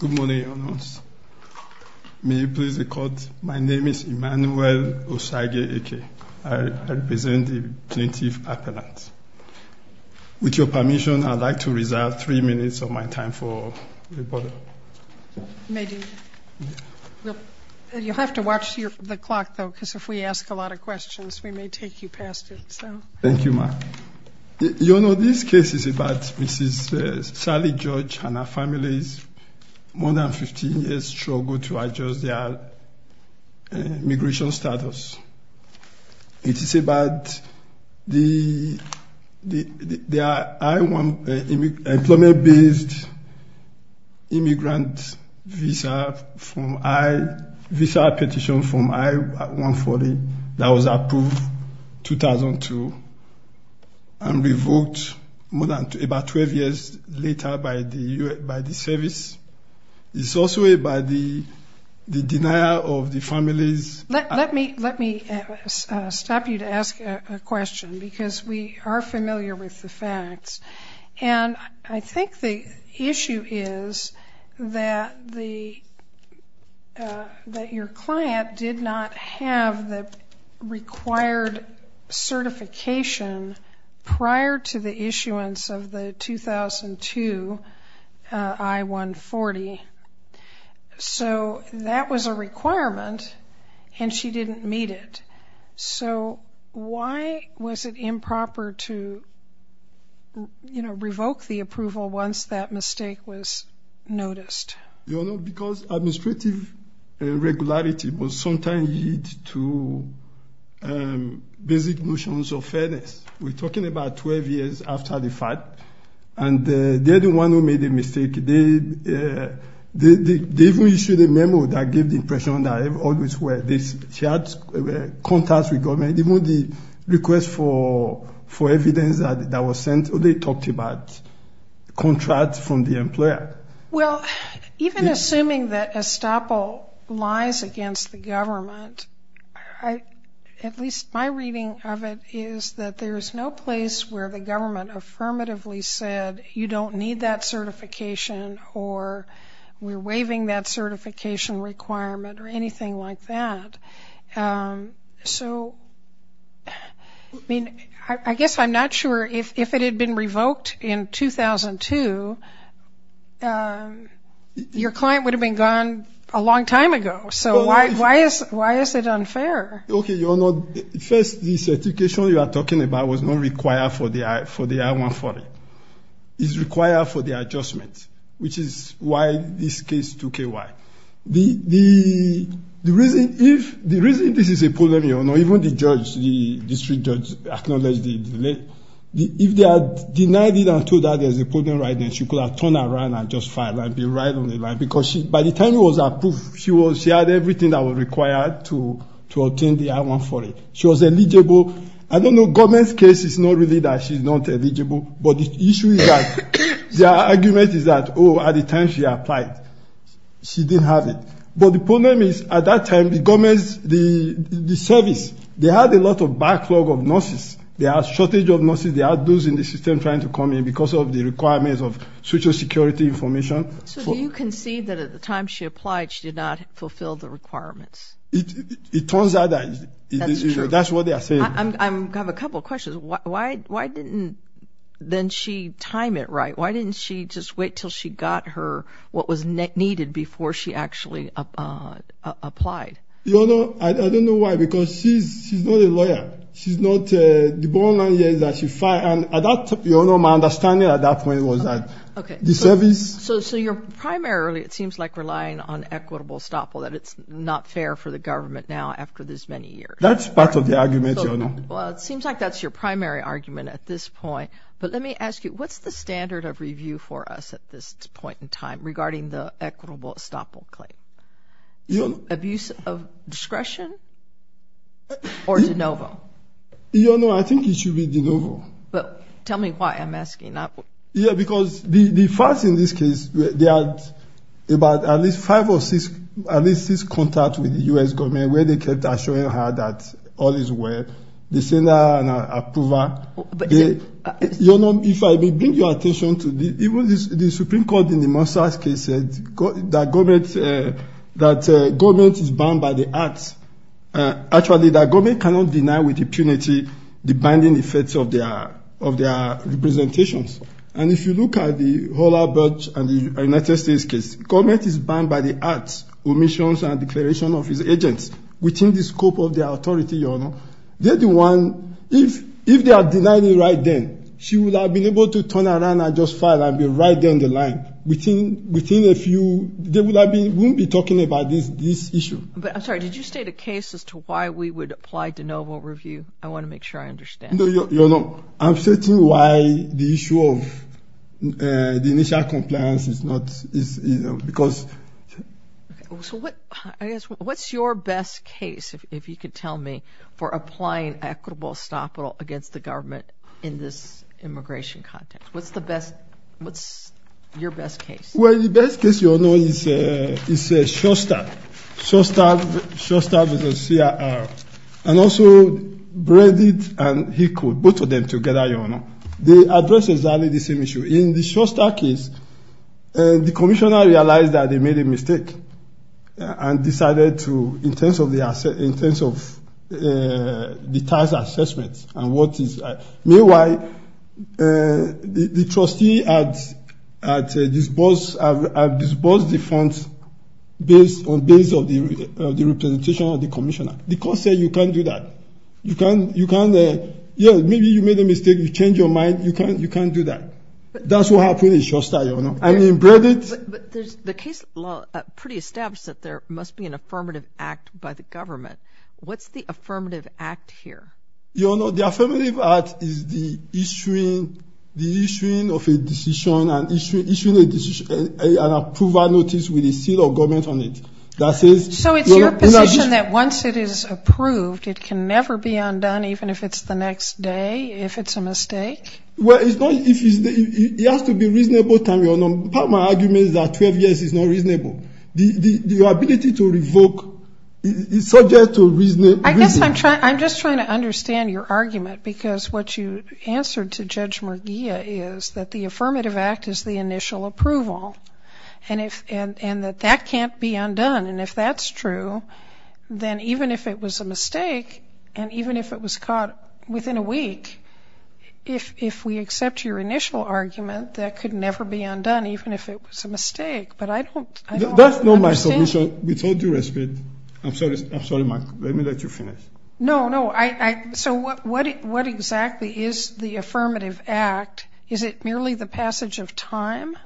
Good morning. My name is Emmanuel Osage-Eke. I represent the plaintiff's appellant. With your permission, I'd like to reserve three minutes of my time for rebuttal. You'll have to watch the clock, though, because if we ask a lot of questions, we may take you You know, this case is about Mrs. Sally George and her family's more than 15 years' struggle to adjust their immigration status. It is about the employment-based immigrant visa petition from I-140 that was approved in 2002. and revoked about 12 years later by the service. It's also about the denial of the family's Let me stop you to ask a question, because we are familiar with the facts. And I think the issue is that your client did not have the required certification prior to the issuance of the 2002 I-140. So that was a requirement, and she didn't meet it. So why was it improper to revoke the approval once that mistake was noticed? Your Honor, because administrative irregularity will sometimes lead to basic notions of fairness. We're talking about 12 years after the fact, and they're the ones who made the mistake. They even issued a memo that gave the impression that they had contacts with government. Even the request for evidence that was sent, they talked about contracts from the employer. Well, even assuming that estoppel lies against the government, at least my reading of it is that there is no place where the government affirmatively said you don't need that certification or we're waiving that certification requirement or anything like that. So, I mean, I guess I'm not sure if it had been revoked in 2002, your client would have been gone a long time ago. So why is it unfair? Okay, Your Honor. First, the certification you are talking about was not required for the I-140. It's required for the adjustment, which is why this case took a while. The reason this is a problem, your Honor, even the judge, the district judge, acknowledged the delay. If they had denied it and told her that there's a problem right there, she could have turned around and just filed and be right on the line. Because by the time it was approved, she had everything that was required to obtain the I-140. She was eligible. I don't know. Government's case is not really that she's not eligible. But the issue is that the argument is that, oh, at the time she applied, she didn't have it. But the problem is, at that time, the government, the service, they had a lot of backlog of nurses. They had a shortage of nurses. They had those in the system trying to come in because of the requirements of social security information. So do you concede that at the time she applied, she did not fulfill the requirements? It turns out that's what they are saying. I have a couple of questions. Why didn't then she time it right? Why didn't she just wait until she got her what was needed before she actually applied? Your Honor, I don't know why, because she's not a lawyer. She's not the born lawyer that she filed. My understanding at that point was that the service... So you're primarily, it seems like, relying on equitable estoppel, that it's not fair for the government now after this many years. That's part of the argument, Your Honor. Well, it seems like that's your primary argument at this point. But let me ask you, what's the standard of review for us at this point in time regarding the equitable estoppel claim? Abuse of discretion or de novo? Your Honor, I think it should be de novo. Tell me why I'm asking. Yeah, because the facts in this case, there are about at least five or six contacts with the U.S. government where they kept assuring her that all is well. They sent her an approver. Your Honor, if I may bring your attention to the Supreme Court in the Mosas case said that government is bound by the arts. Actually, the government cannot deny with impunity the binding effects of their representations. And if you look at the Hull-Albert and the United States case, government is bound by the arts, omissions and declaration of its agents within the scope of the authority, Your Honor. They're the one, if they are denied it right then, she would have been able to turn around and just file and be right there on the line. Within a few, they wouldn't be talking about this issue. I'm sorry, did you state a case as to why we would apply de novo review? I want to make sure I understand. Your Honor, I'm searching why the issue of the initial compliance is not, because... What's your best case, if you could tell me, for applying equitable estoppel against the government in this immigration context? What's the best, what's your best case? Well, the best case, Your Honor, is Shostak. Shostak is a CRR. And also Breedit and HECO, both of them together, Your Honor. They address exactly the same issue. In the Shostak case, the commissioner realized that they made a mistake and decided to, in terms of the task assessment and what is... The trustee had disbursed the funds based on the representation of the commissioner. The court said you can't do that. You can't, yeah, maybe you made a mistake, you changed your mind, you can't do that. That's what happened in Shostak, Your Honor. And in Breedit... But the case pretty established that there must be an affirmative act by the government. What's the affirmative act here? Your Honor, the affirmative act is the issuing of a decision and issuing an approval notice with a seal of government on it. That says... So it's your position that once it is approved, it can never be undone, even if it's the next day, if it's a mistake? Well, it's not... It has to be reasonable time, Your Honor. Part of my argument is that 12 years is not reasonable. The ability to revoke is subject to reason. I guess I'm just trying to understand your argument because what you answered to Judge Murguia is that the affirmative act is the initial approval and that that can't be undone. And if that's true, then even if it was a mistake and even if it was caught within a week, if we accept your initial argument, that could never be undone, even if it was a mistake. But I don't understand... That's not my solution. So with all due respect... I'm sorry, Mike. Let me let you finish. No, no. So what exactly is the affirmative act? Is it merely the passage of time?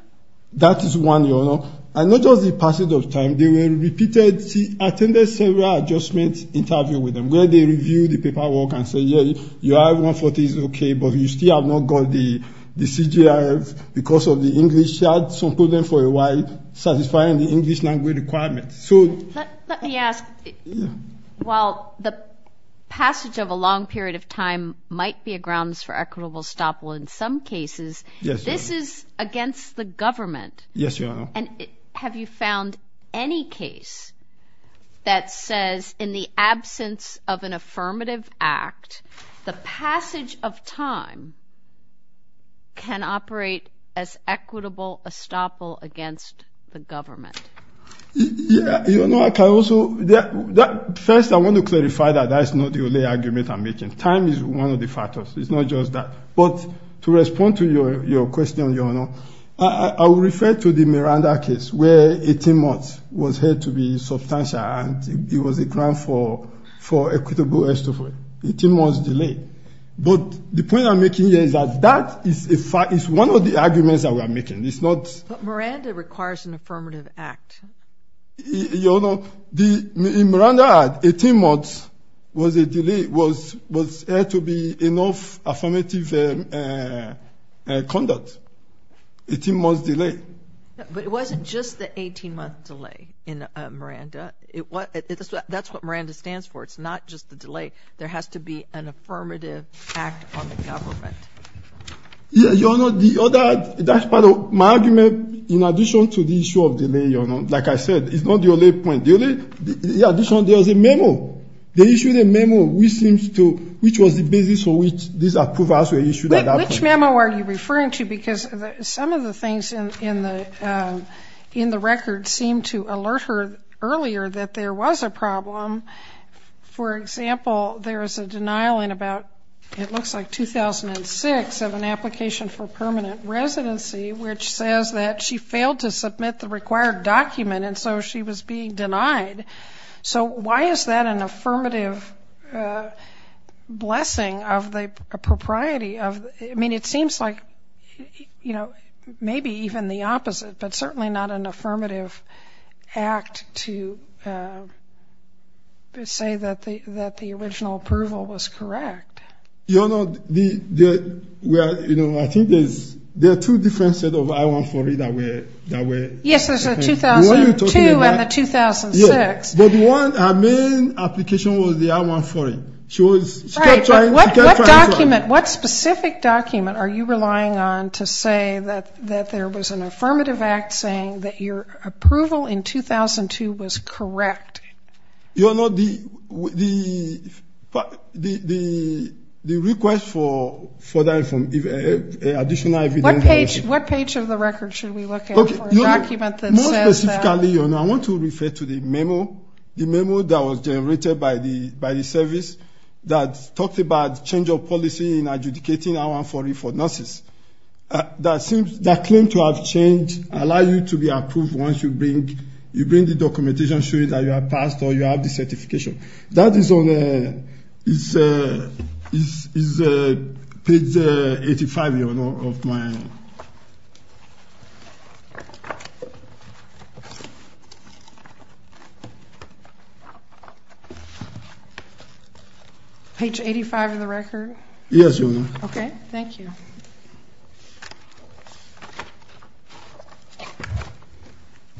That is one, Your Honor. And not just the passage of time. There were repeated... I attended several adjustment interviews with them where they reviewed the paperwork and said, you have 140, it's okay, but you still have not got the CGRF because of the English. So put them for a while, satisfying the English language requirements. Let me ask. While the passage of a long period of time might be a grounds for equitable stoppable in some cases, this is against the government. Yes, Your Honor. And have you found any case that says in the absence of an affirmative act, the passage of time can operate as equitable estoppel against the government? Your Honor, I can also... First, I want to clarify that that's not the only argument I'm making. Time is one of the factors. It's not just that. But to respond to your question, Your Honor, I will refer to the Miranda case where 18 months was heard to be substantial, and it was a ground for equitable estoppel, 18 months delay. But the point I'm making here is that that is one of the arguments that we are making. It's not... But Miranda requires an affirmative act. Your Honor, the Miranda act, 18 months was a delay, was heard to be enough affirmative conduct, 18 months delay. But it wasn't just the 18-month delay in Miranda. That's what Miranda stands for. It's not just the delay. There has to be an affirmative act on the government. Your Honor, the other... That's part of my argument in addition to the issue of delay, Your Honor. Like I said, it's not the only point. The only... In addition, there was a memo. They issued a memo which seems to... which was the basis for which these approvals were issued at that point. Which memo are you referring to? Because some of the things in the record seem to alert her earlier that there was a problem. For example, there is a denial in about... It looks like 2006 of an application for permanent residency, which says that she failed to submit the required document and so she was being denied. So why is that an affirmative blessing of the propriety of... I mean, it seems like, you know, maybe even the opposite, but certainly not an affirmative act to say that the original approval was correct. Your Honor, the... You know, I think there are two different sets of I-140 that were... Yes, there's a 2002 and the 2006. But one, her main application was the I-140. She was... Right, but what document, what specific document, are you relying on to say that there was an affirmative act saying that your approval in 2002 was correct? Your Honor, the request for that additional evidence... What page of the record should we look at for a document that says that? More specifically, Your Honor, I want to refer to the memo. The memo that was generated by the service that talked about change of policy in adjudicating I-140 for nurses. That claims to have changed, allow you to be approved once you bring the documentation showing that you have passed or you have the certification. That is on page 85, Your Honor, of my... Page 85 of the record? Yes, Your Honor. Okay, thank you.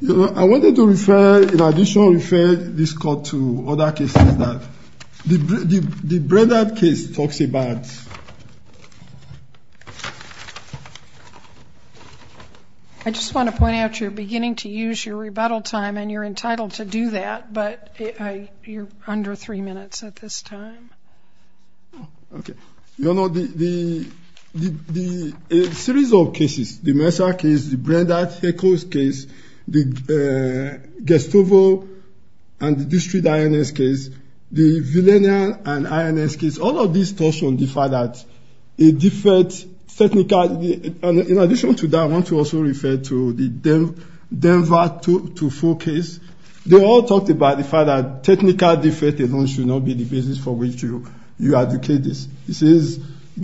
Your Honor, I wanted to refer, in addition, refer this court to other cases that... The Breda case talks about... I just want to point out, you're beginning to use your rebuttal time, and you're entitled to do that, but you're under three minutes at this time. Okay. Your Honor, the series of cases, the Mercer case, the Breda case, the Gestapo and the District INS case, the Villanelle and INS case, all of these talks on the fact that a defect, technical... In addition to that, I want to also refer to the Denver 2-4 case. They all talked about the fact that technical defect alone should not be the basis for which you adjudicate this. This is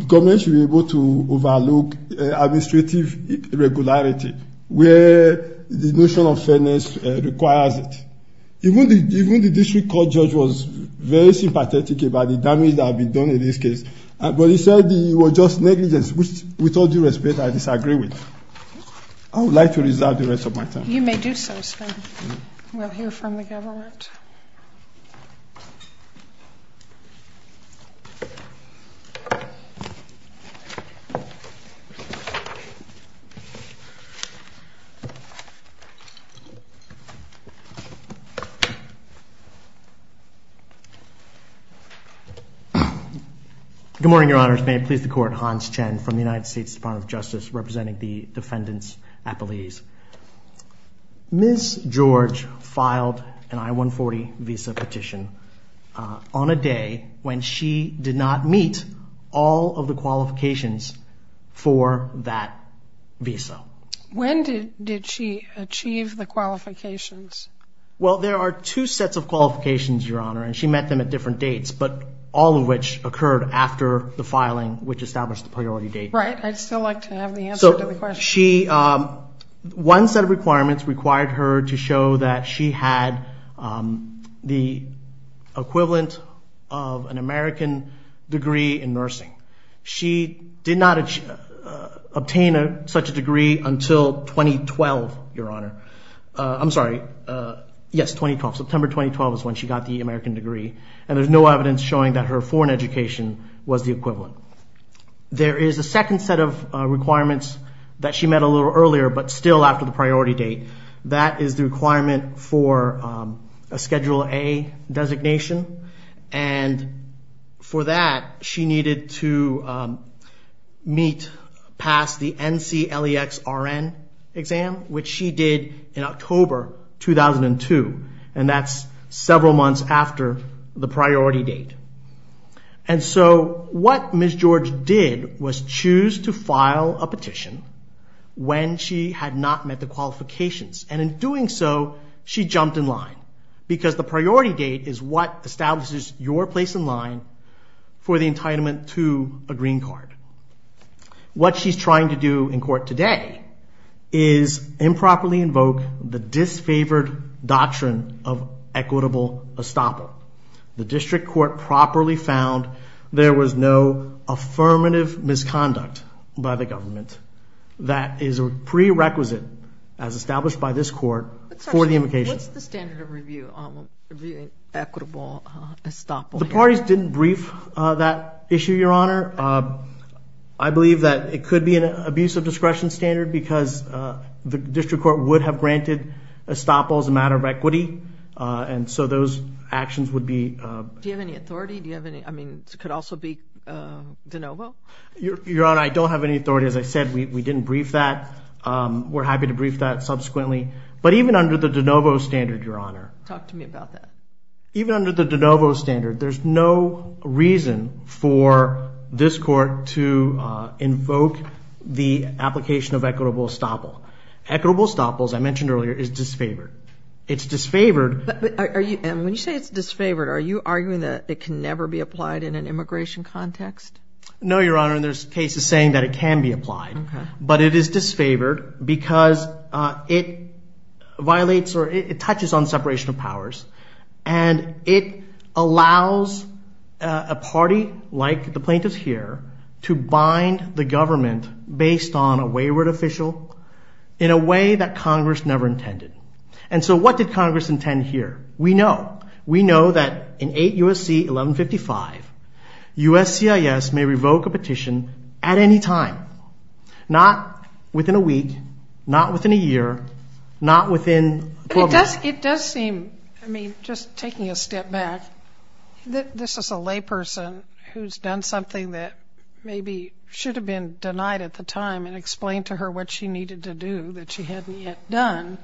government should be able to overlook administrative irregularity where the notion of fairness requires it. Even the district court judge was very sympathetic about the damage that had been done in this case, but he said it was just negligence, which, with all due respect, I disagree with. I would like to reserve the rest of my time. You may do so, Sven. We'll hear from the government. Good morning, Your Honors. May it please the Court. Hans Chen from the United States Department of Justice, representing the defendants at Belize. Ms. George filed an I-140 visa petition on a day when she did not meet all of the qualifications for that visa. When did she achieve the qualifications? Well, there are two sets of qualifications, Your Honor, and she met them at different dates, but all of which occurred after the filing, which established the priority date. Right. I'd still like to have the answer to the question. One set of requirements required her to show that she had the equivalent of an American degree in nursing. She did not obtain such a degree until 2012, Your Honor. I'm sorry, yes, 2012. September 2012 is when she got the American degree, and there's no evidence showing that her foreign education was the equivalent. There is a second set of requirements that she met a little earlier, but still after the priority date. That is the requirement for a Schedule A designation, and for that she needed to meet, pass the NCLEX-RN exam, which she did in October 2002, and that's several months after the priority date. And so what Ms. George did was choose to file a petition when she had not met the qualifications, and in doing so, she jumped in line, because the priority date is what establishes your place in line for the entitlement to a green card. What she's trying to do in court today is improperly invoke the disfavored doctrine of equitable estoppel. The district court properly found there was no affirmative misconduct by the government. That is a prerequisite, as established by this court, for the invocation. What's the standard of review on equitable estoppel? The parties didn't brief that issue, Your Honor. I believe that it could be an abuse of discretion standard, because the district court would have granted estoppel as a matter of equity, and so those actions would be— Do you have any authority? Do you have any—I mean, it could also be de novo? Your Honor, I don't have any authority. As I said, we didn't brief that. We're happy to brief that subsequently. But even under the de novo standard, Your Honor— Talk to me about that. Even under the de novo standard, there's no reason for this court to invoke the application of equitable estoppel. Equitable estoppel, as I mentioned earlier, is disfavored. It's disfavored— When you say it's disfavored, are you arguing that it can never be applied in an immigration context? No, Your Honor, and there's cases saying that it can be applied. Okay. But it is disfavored because it violates or it touches on separation of powers, and it allows a party like the plaintiffs here to bind the government based on a wayward official in a way that Congress never intended. And so what did Congress intend here? We know. We know that in 8 U.S.C. 1155, USCIS may revoke a petition at any time, not within a week, not within a year, not within— It does seem—I mean, just taking a step back, this is a layperson who's done something that maybe should have been denied at the time and explained to her what she needed to do that she hadn't yet done,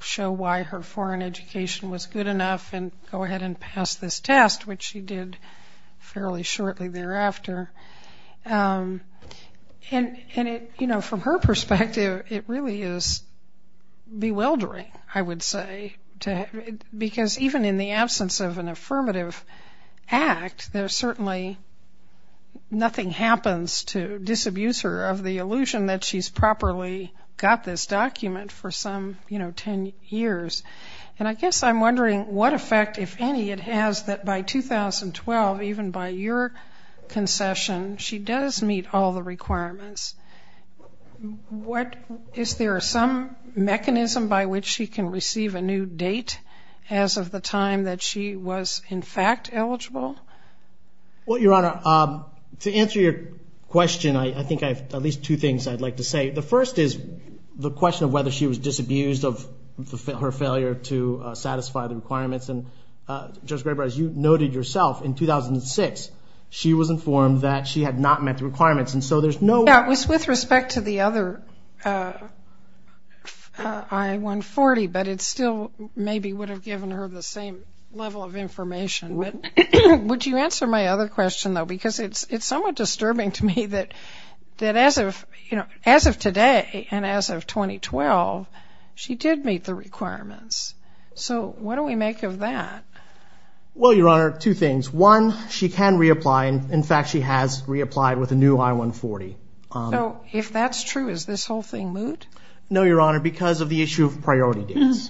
show why her foreign education was good enough and go ahead and pass this test, which she did fairly shortly thereafter. And from her perspective, it really is bewildering, I would say, because even in the absence of an affirmative act, there certainly nothing happens to disabuse her of the illusion that she's properly got this document for some 10 years. And I guess I'm wondering what effect, if any, it has that by 2012, even by your concession, she does meet all the requirements. Is there some mechanism by which she can receive a new date as of the time that she was in fact eligible? Well, Your Honor, to answer your question, I think I have at least two things I'd like to say. The first is the question of whether she was disabused of her failure to satisfy the requirements. And, Judge Graber, as you noted yourself, in 2006, she was informed that she had not met the requirements, and so there's no— Yeah, it was with respect to the other I-140, but it still maybe would have given her the same level of information. Would you answer my other question, though? Because it's somewhat disturbing to me that as of today and as of 2012, she did meet the requirements. So what do we make of that? Well, Your Honor, two things. One, she can reapply, and in fact she has reapplied with a new I-140. So if that's true, is this whole thing moot? No, Your Honor, because of the issue of priority dates.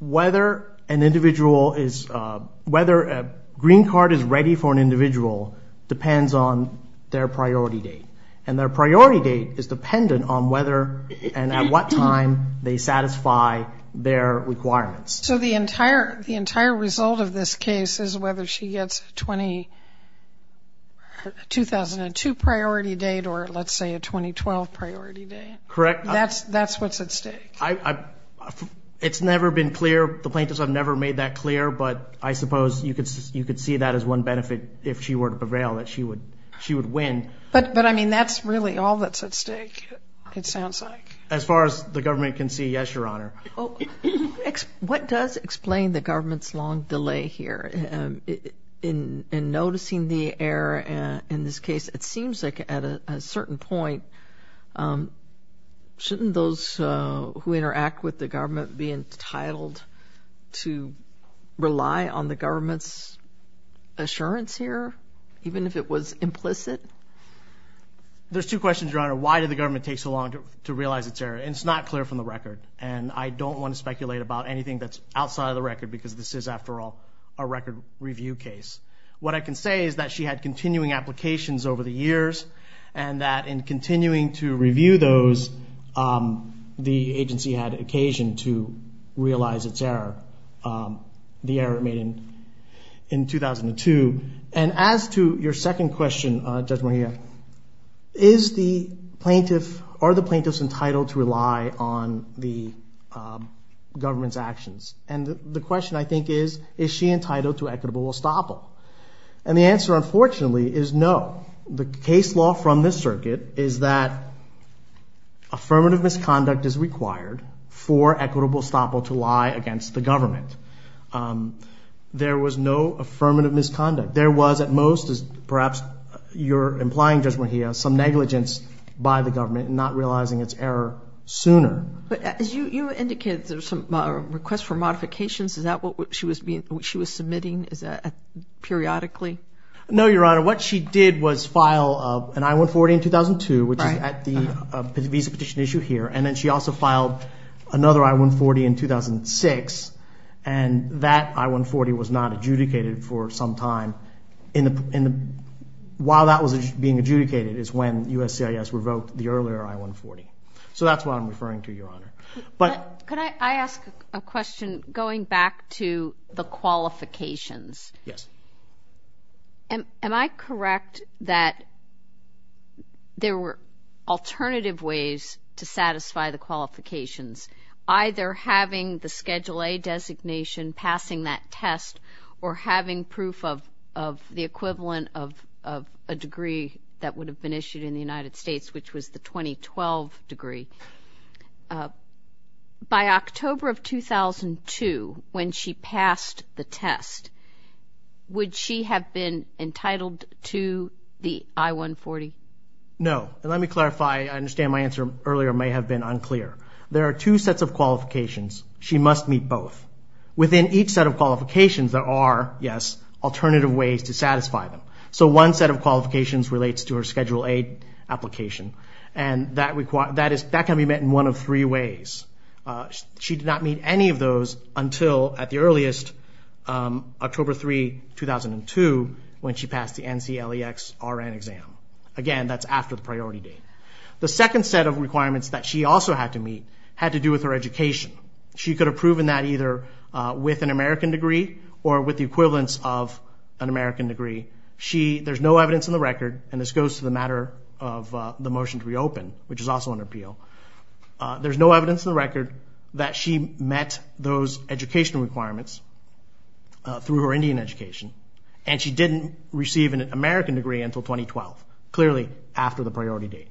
Whether a green card is ready for an individual depends on their priority date, and their priority date is dependent on whether and at what time they satisfy their requirements. So the entire result of this case is whether she gets a 2002 priority date or, let's say, a 2012 priority date? Correct. That's what's at stake? It's never been clear. The plaintiffs have never made that clear, but I suppose you could see that as one benefit if she were to prevail, that she would win. But, I mean, that's really all that's at stake, it sounds like. As far as the government can see, yes, Your Honor. What does explain the government's long delay here? In noticing the error in this case, it seems like at a certain point shouldn't those who interact with the government be entitled to rely on the government's assurance here, even if it was implicit? There's two questions, Your Honor. Why did the government take so long to realize its error? It's not clear from the record, and I don't want to speculate about anything that's outside of the record because this is, after all, a record review case. What I can say is that she had continuing applications over the years and that in continuing to review those, the agency had occasion to realize its error, the error made in 2002. And as to your second question, Judge Moria, are the plaintiffs entitled to rely on the government's actions? And the question, I think, is, is she entitled to equitable estoppel? And the answer, unfortunately, is no. The case law from this circuit is that affirmative misconduct is required for equitable estoppel to lie against the government. There was no affirmative misconduct. There was, at most, as perhaps you're implying, Judge Moria, some negligence by the government in not realizing its error sooner. But as you indicated, there were some requests for modifications. Is that what she was submitting? Is that periodically? No, Your Honor. What she did was file an I-140 in 2002, which is at the visa petition issue here, and then she also filed another I-140 in 2006, and that I-140 was not adjudicated for some time. While that was being adjudicated is when USCIS revoked the earlier I-140. So that's what I'm referring to, Your Honor. But could I ask a question going back to the qualifications? Yes. Am I correct that there were alternative ways to satisfy the qualifications, either having the Schedule A designation, passing that test, or having proof of the equivalent of a degree that would have been issued in the United States, which was the 2012 degree? By October of 2002, when she passed the test, would she have been entitled to the I-140? No. And let me clarify. I understand my answer earlier may have been unclear. There are two sets of qualifications. She must meet both. Within each set of qualifications, there are, yes, alternative ways to satisfy them. So one set of qualifications relates to her Schedule A application, and that can be met in one of three ways. She did not meet any of those until, at the earliest, October 3, 2002, when she passed the NCLEX-RN exam. Again, that's after the priority date. The second set of requirements that she also had to meet had to do with her education. She could have proven that either with an American degree or with the equivalence of an American degree. There's no evidence in the record, and this goes to the matter of the motion to reopen, which is also under appeal. There's no evidence in the record that she met those education requirements through her Indian education, and she didn't receive an American degree until 2012, clearly after the priority date.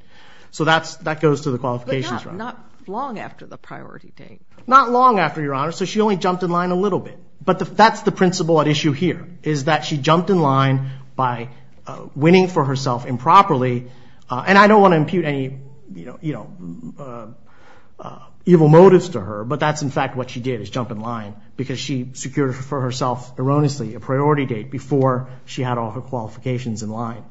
So that goes to the qualifications. But not long after the priority date. Not long after, Your Honor, so she only jumped in line a little bit. But that's the principle at issue here, is that she jumped in line by winning for herself improperly, and I don't want to impute any evil motives to her, but that's, in fact, what she did is jump in line because she secured for herself erroneously a priority date before she had all her qualifications in line.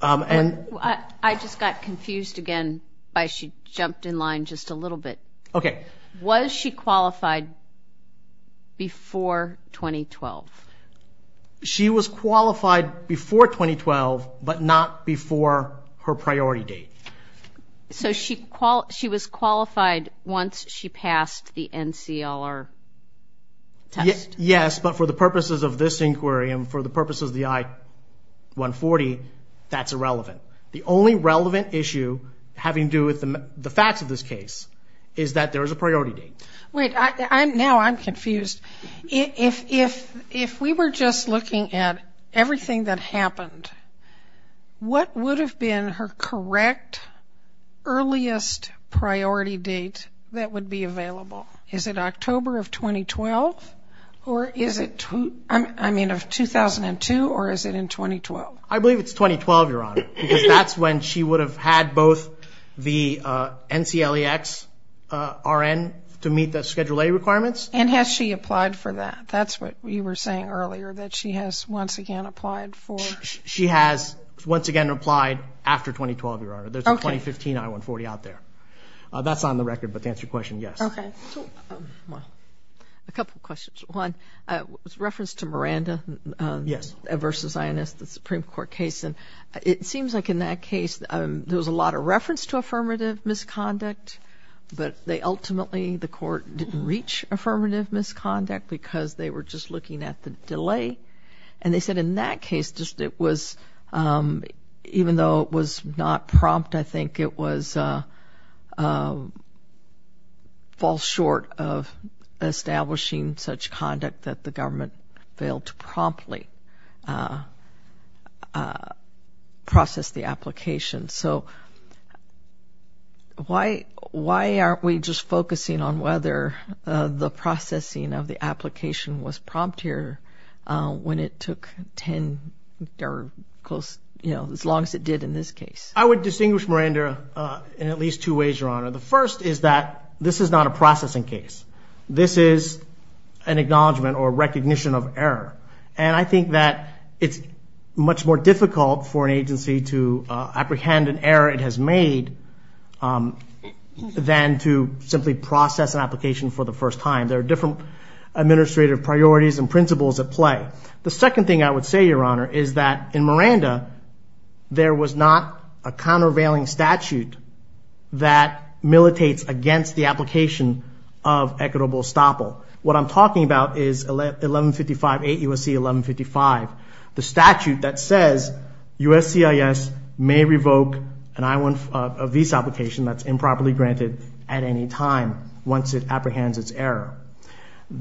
I just got confused again by she jumped in line just a little bit. Okay. Was she qualified before 2012? She was qualified before 2012, but not before her priority date. So she was qualified once she passed the NCLR test? Yes, but for the purposes of this inquiry and for the purposes of the I-140, that's irrelevant. The only relevant issue having to do with the facts of this case is that there is a priority date. Wait, now I'm confused. If we were just looking at everything that happened, what would have been her correct earliest priority date that would be available? Is it October of 2012, I mean of 2002, or is it in 2012? I believe it's 2012, Your Honor, because that's when she would have had both the NCLEX-RN to meet the Schedule A requirements. And has she applied for that? That's what you were saying earlier, that she has once again applied for? She has once again applied after 2012, Your Honor. There's a 2015 I-140 out there. That's on the record, but to answer your question, yes. Okay. A couple of questions. One, with reference to Miranda versus INS, the Supreme Court case, it seems like in that case there was a lot of reference to affirmative misconduct, but ultimately the court didn't reach affirmative misconduct because they were just looking at the delay. And they said in that case, even though it was not prompt, I think it falls short of establishing such conduct that the government failed to promptly process the application. So why aren't we just focusing on whether the processing of the application was prompt here when it took as long as it did in this case? I would distinguish Miranda in at least two ways, Your Honor. The first is that this is not a processing case. This is an acknowledgment or recognition of error. And I think that it's much more difficult for an agency to apprehend an error it has made than to simply process an application for the first time. There are different administrative priorities and principles at play. The second thing I would say, Your Honor, is that in Miranda, there was not a countervailing statute that militates against the application of equitable estoppel. What I'm talking about is 8 U.S.C. 1155, the statute that says USCIS may revoke a visa application that's improperly granted at any time once it apprehends its error.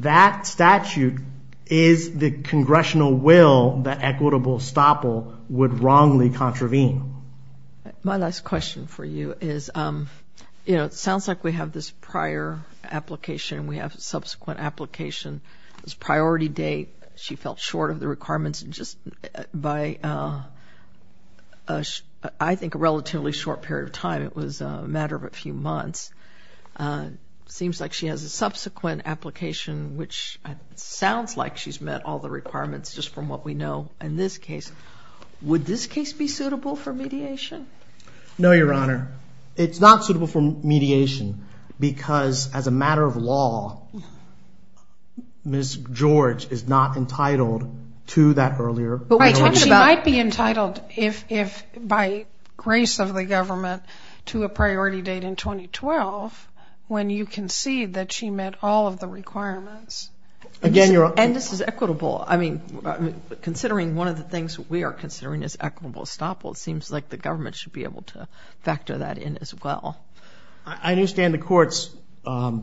That statute is the congressional will that equitable estoppel would wrongly contravene. My last question for you is it sounds like we have this prior application and we have a subsequent application. This priority date, she felt short of the requirements just by I think a relatively short period of time. It was a matter of a few months. It seems like she has a subsequent application which sounds like she's met all the requirements just from what we know in this case. Would this case be suitable for mediation? No, Your Honor. It's not suitable for mediation because as a matter of law, Ms. George is not entitled to that earlier. But she might be entitled if by grace of the government to a priority date in 2012 when you concede that she met all of the requirements. And this is equitable. I mean, considering one of the things we are considering is equitable estoppel, it seems like the government should be able to factor that in as well. I understand the court's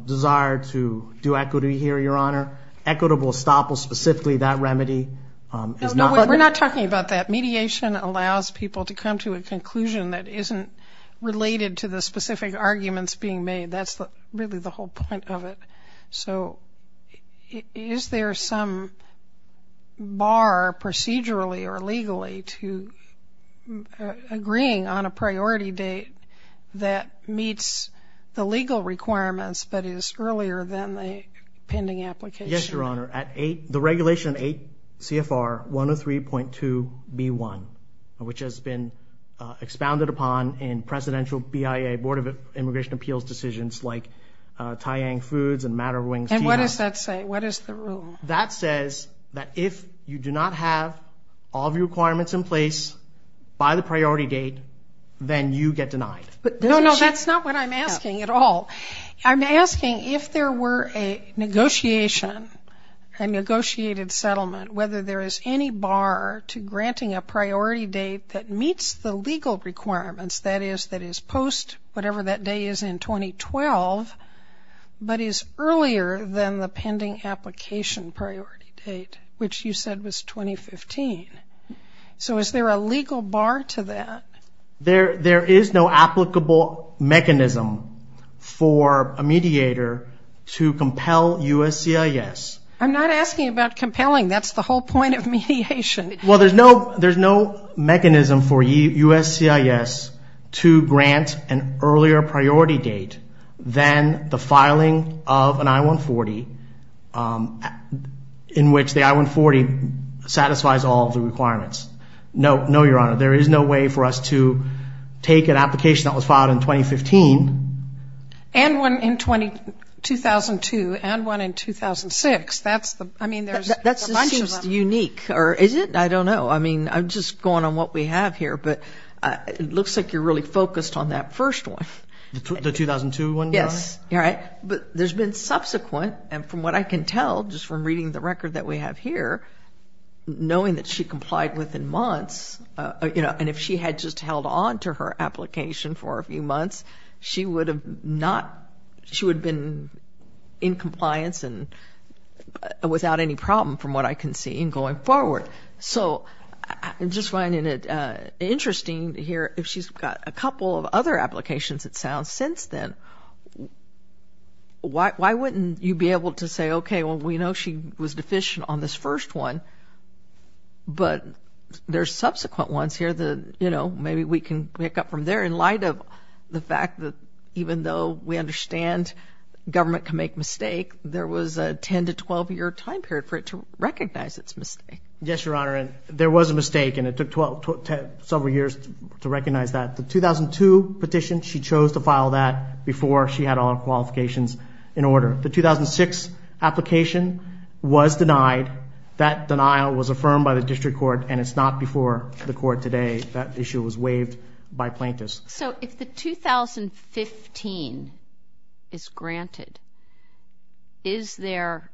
desire to do equity here, Your Honor. Equitable estoppel, specifically that remedy. No, we're not talking about that. Mediation allows people to come to a conclusion that isn't related to the specific arguments being made. That's really the whole point of it. So is there some bar procedurally or legally to agreeing on a priority date that meets the legal requirements but is earlier than the pending application? Yes, Your Honor. The regulation 8 CFR 103.2B1, which has been expounded upon in presidential BIA, Board of Immigration Appeals decisions like Taiyang Foods and Matter of Wings Tea House. And what does that say? What is the rule? That says that if you do not have all of your requirements in place by the priority date, then you get denied. No, no, that's not what I'm asking at all. I'm asking if there were a negotiation, a negotiated settlement, whether there is any bar to granting a priority date that meets the legal requirements, that is, that is post whatever that day is in 2012 but is earlier than the pending application priority date, which you said was 2015. So is there a legal bar to that? There is no applicable mechanism for a mediator to compel USCIS. I'm not asking about compelling. That's the whole point of mediation. Well, there's no mechanism for USCIS to grant an earlier priority date than the filing of an I-140 in which the I-140 satisfies all of the requirements. No, no, Your Honor. There is no way for us to take an application that was filed in 2015. And one in 2002 and one in 2006. I mean, there's a bunch of them. That seems unique. Or is it? I don't know. I mean, I'm just going on what we have here. But it looks like you're really focused on that first one. The 2002 one? Yes. All right. But there's been subsequent, and from what I can tell, just from reading the record that we have here, knowing that she complied within months, you know, and if she had just held on to her application for a few months, she would have been in compliance and without any problem, from what I can see, in going forward. So I'm just finding it interesting to hear, if she's got a couple of other applications, it sounds, since then, why wouldn't you be able to say, okay, well we know she was deficient on this first one, but there's subsequent ones here that, you know, maybe we can pick up from there in light of the fact that even though we understand government can make mistakes, there was a 10 to 12-year time period for it to recognize its mistake. Yes, Your Honor. There was a mistake, and it took several years to recognize that. The 2002 petition, she chose to file that before she had all qualifications in order. The 2006 application was denied. That denial was affirmed by the district court, and it's not before the court today. That issue was waived by plaintiffs. So if the 2015 is granted, is there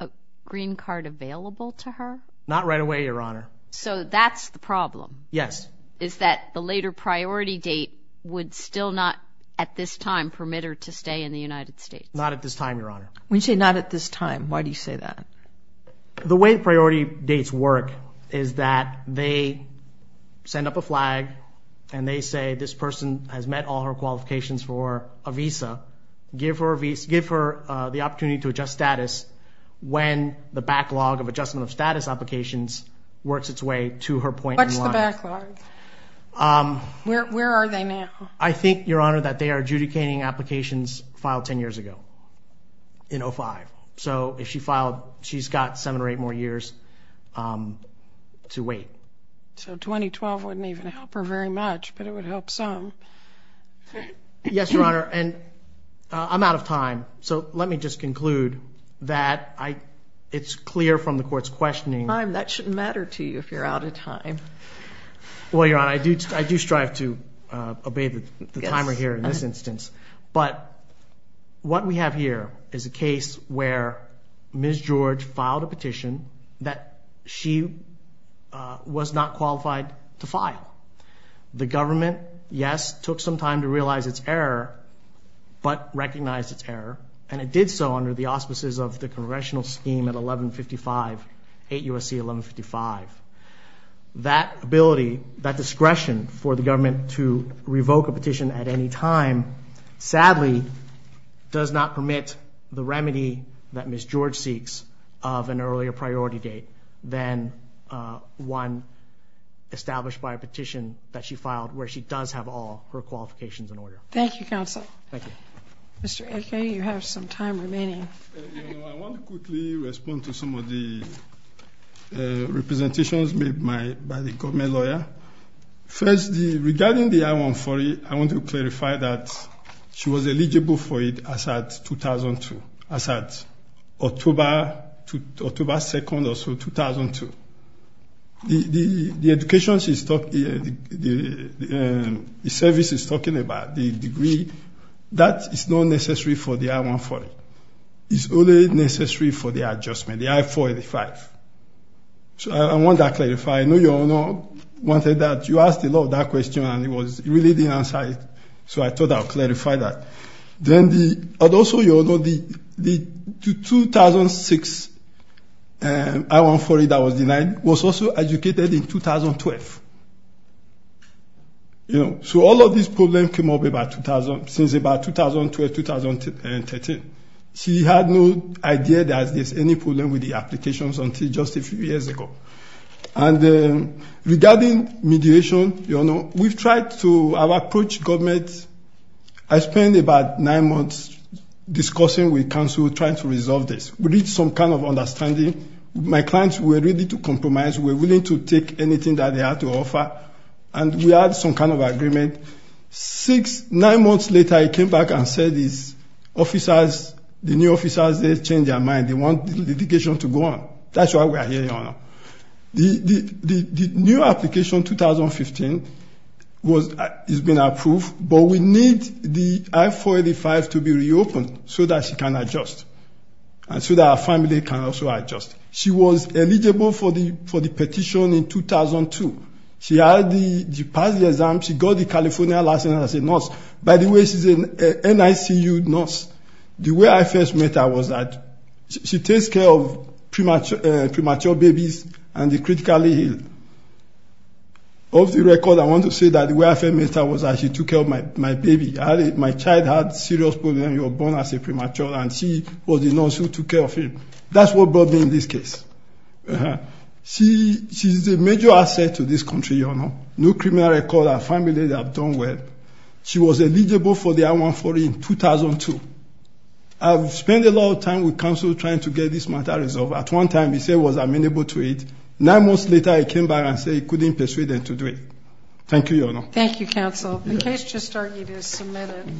a green card available to her? Not right away, Your Honor. So that's the problem? Yes. Is that the later priority date would still not, at this time, permit her to stay in the United States? Not at this time, Your Honor. When you say not at this time, why do you say that? The way priority dates work is that they send up a flag, and they say this person has met all her qualifications for a visa. Give her the opportunity to adjust status when the backlog of adjustment of applications works its way to her point in line. What's the backlog? Where are they now? I think, Your Honor, that they are adjudicating applications filed 10 years ago, in 2005. So if she filed, she's got seven or eight more years to wait. So 2012 wouldn't even help her very much, but it would help some. Yes, Your Honor. And I'm out of time, so let me just conclude that it's clear from the time, that shouldn't matter to you if you're out of time. Well, Your Honor, I do strive to obey the timer here in this instance. But what we have here is a case where Ms. George filed a petition that she was not qualified to file. The government, yes, took some time to realize its error, but recognized its error, and it did so under the auspices of the congressional scheme at 1155, 8 U.S.C. 1155. That ability, that discretion for the government to revoke a petition at any time sadly does not permit the remedy that Ms. George seeks of an earlier priority date than one established by a petition that she filed where she does have all her qualifications in order. Thank you, Counsel. Thank you. Mr. Eke, you have some time remaining. I want to quickly respond to some of the representations made by the government lawyer. First, regarding the I-140, I want to clarify that she was eligible for it as of 2002, as of October 2nd or so, 2002. The education she's talking about, the services she's talking about, the degree, that is not necessary for the I-140. It's only necessary for the adjustment, the I-485. So I want that clarified. I know your Honor wanted that. You asked a lot of that question, and it was really the answer, so I thought I would clarify that. Also, your Honor, the 2006 I-140 that was denied was also educated in 2012. So all of these problems came up since about 2012, 2013. She had no idea that there's any problem with the applications until just a few years ago. And regarding mediation, your Honor, we've tried to approach government. I spent about nine months discussing with counsel, trying to resolve this. We reached some kind of understanding. My clients were ready to compromise. We were willing to take anything that they had to offer, and we had some kind of agreement. Six, nine months later, I came back and said these officers, the new officers, they changed their mind. That's why we are here, your Honor. The new application, 2015, has been approved, but we need the I-485 to be reopened so that she can adjust, and so that her family can also adjust. She was eligible for the petition in 2002. She passed the exam. She got the California license as a nurse. By the way, she's an NICU nurse. The way I first met her was that she takes care of premature babies, and they're critically ill. Of the record, I want to say that the way I first met her was that she took care of my baby. My child had cerebral palsy, and you were born as a premature, and she was the nurse who took care of him. That's what brought me in this case. She's a major asset to this country, your Honor. No criminal record, her family, they have done well. She was eligible for the I-140 in 2002. I've spent a lot of time with counsel trying to get this matter resolved. At one time, he said, well, I've been able to do it. Nine months later, he came back and said he couldn't persuade them to do it. Thank you, your Honor. Thank you, counsel. The case just started. It is submitted.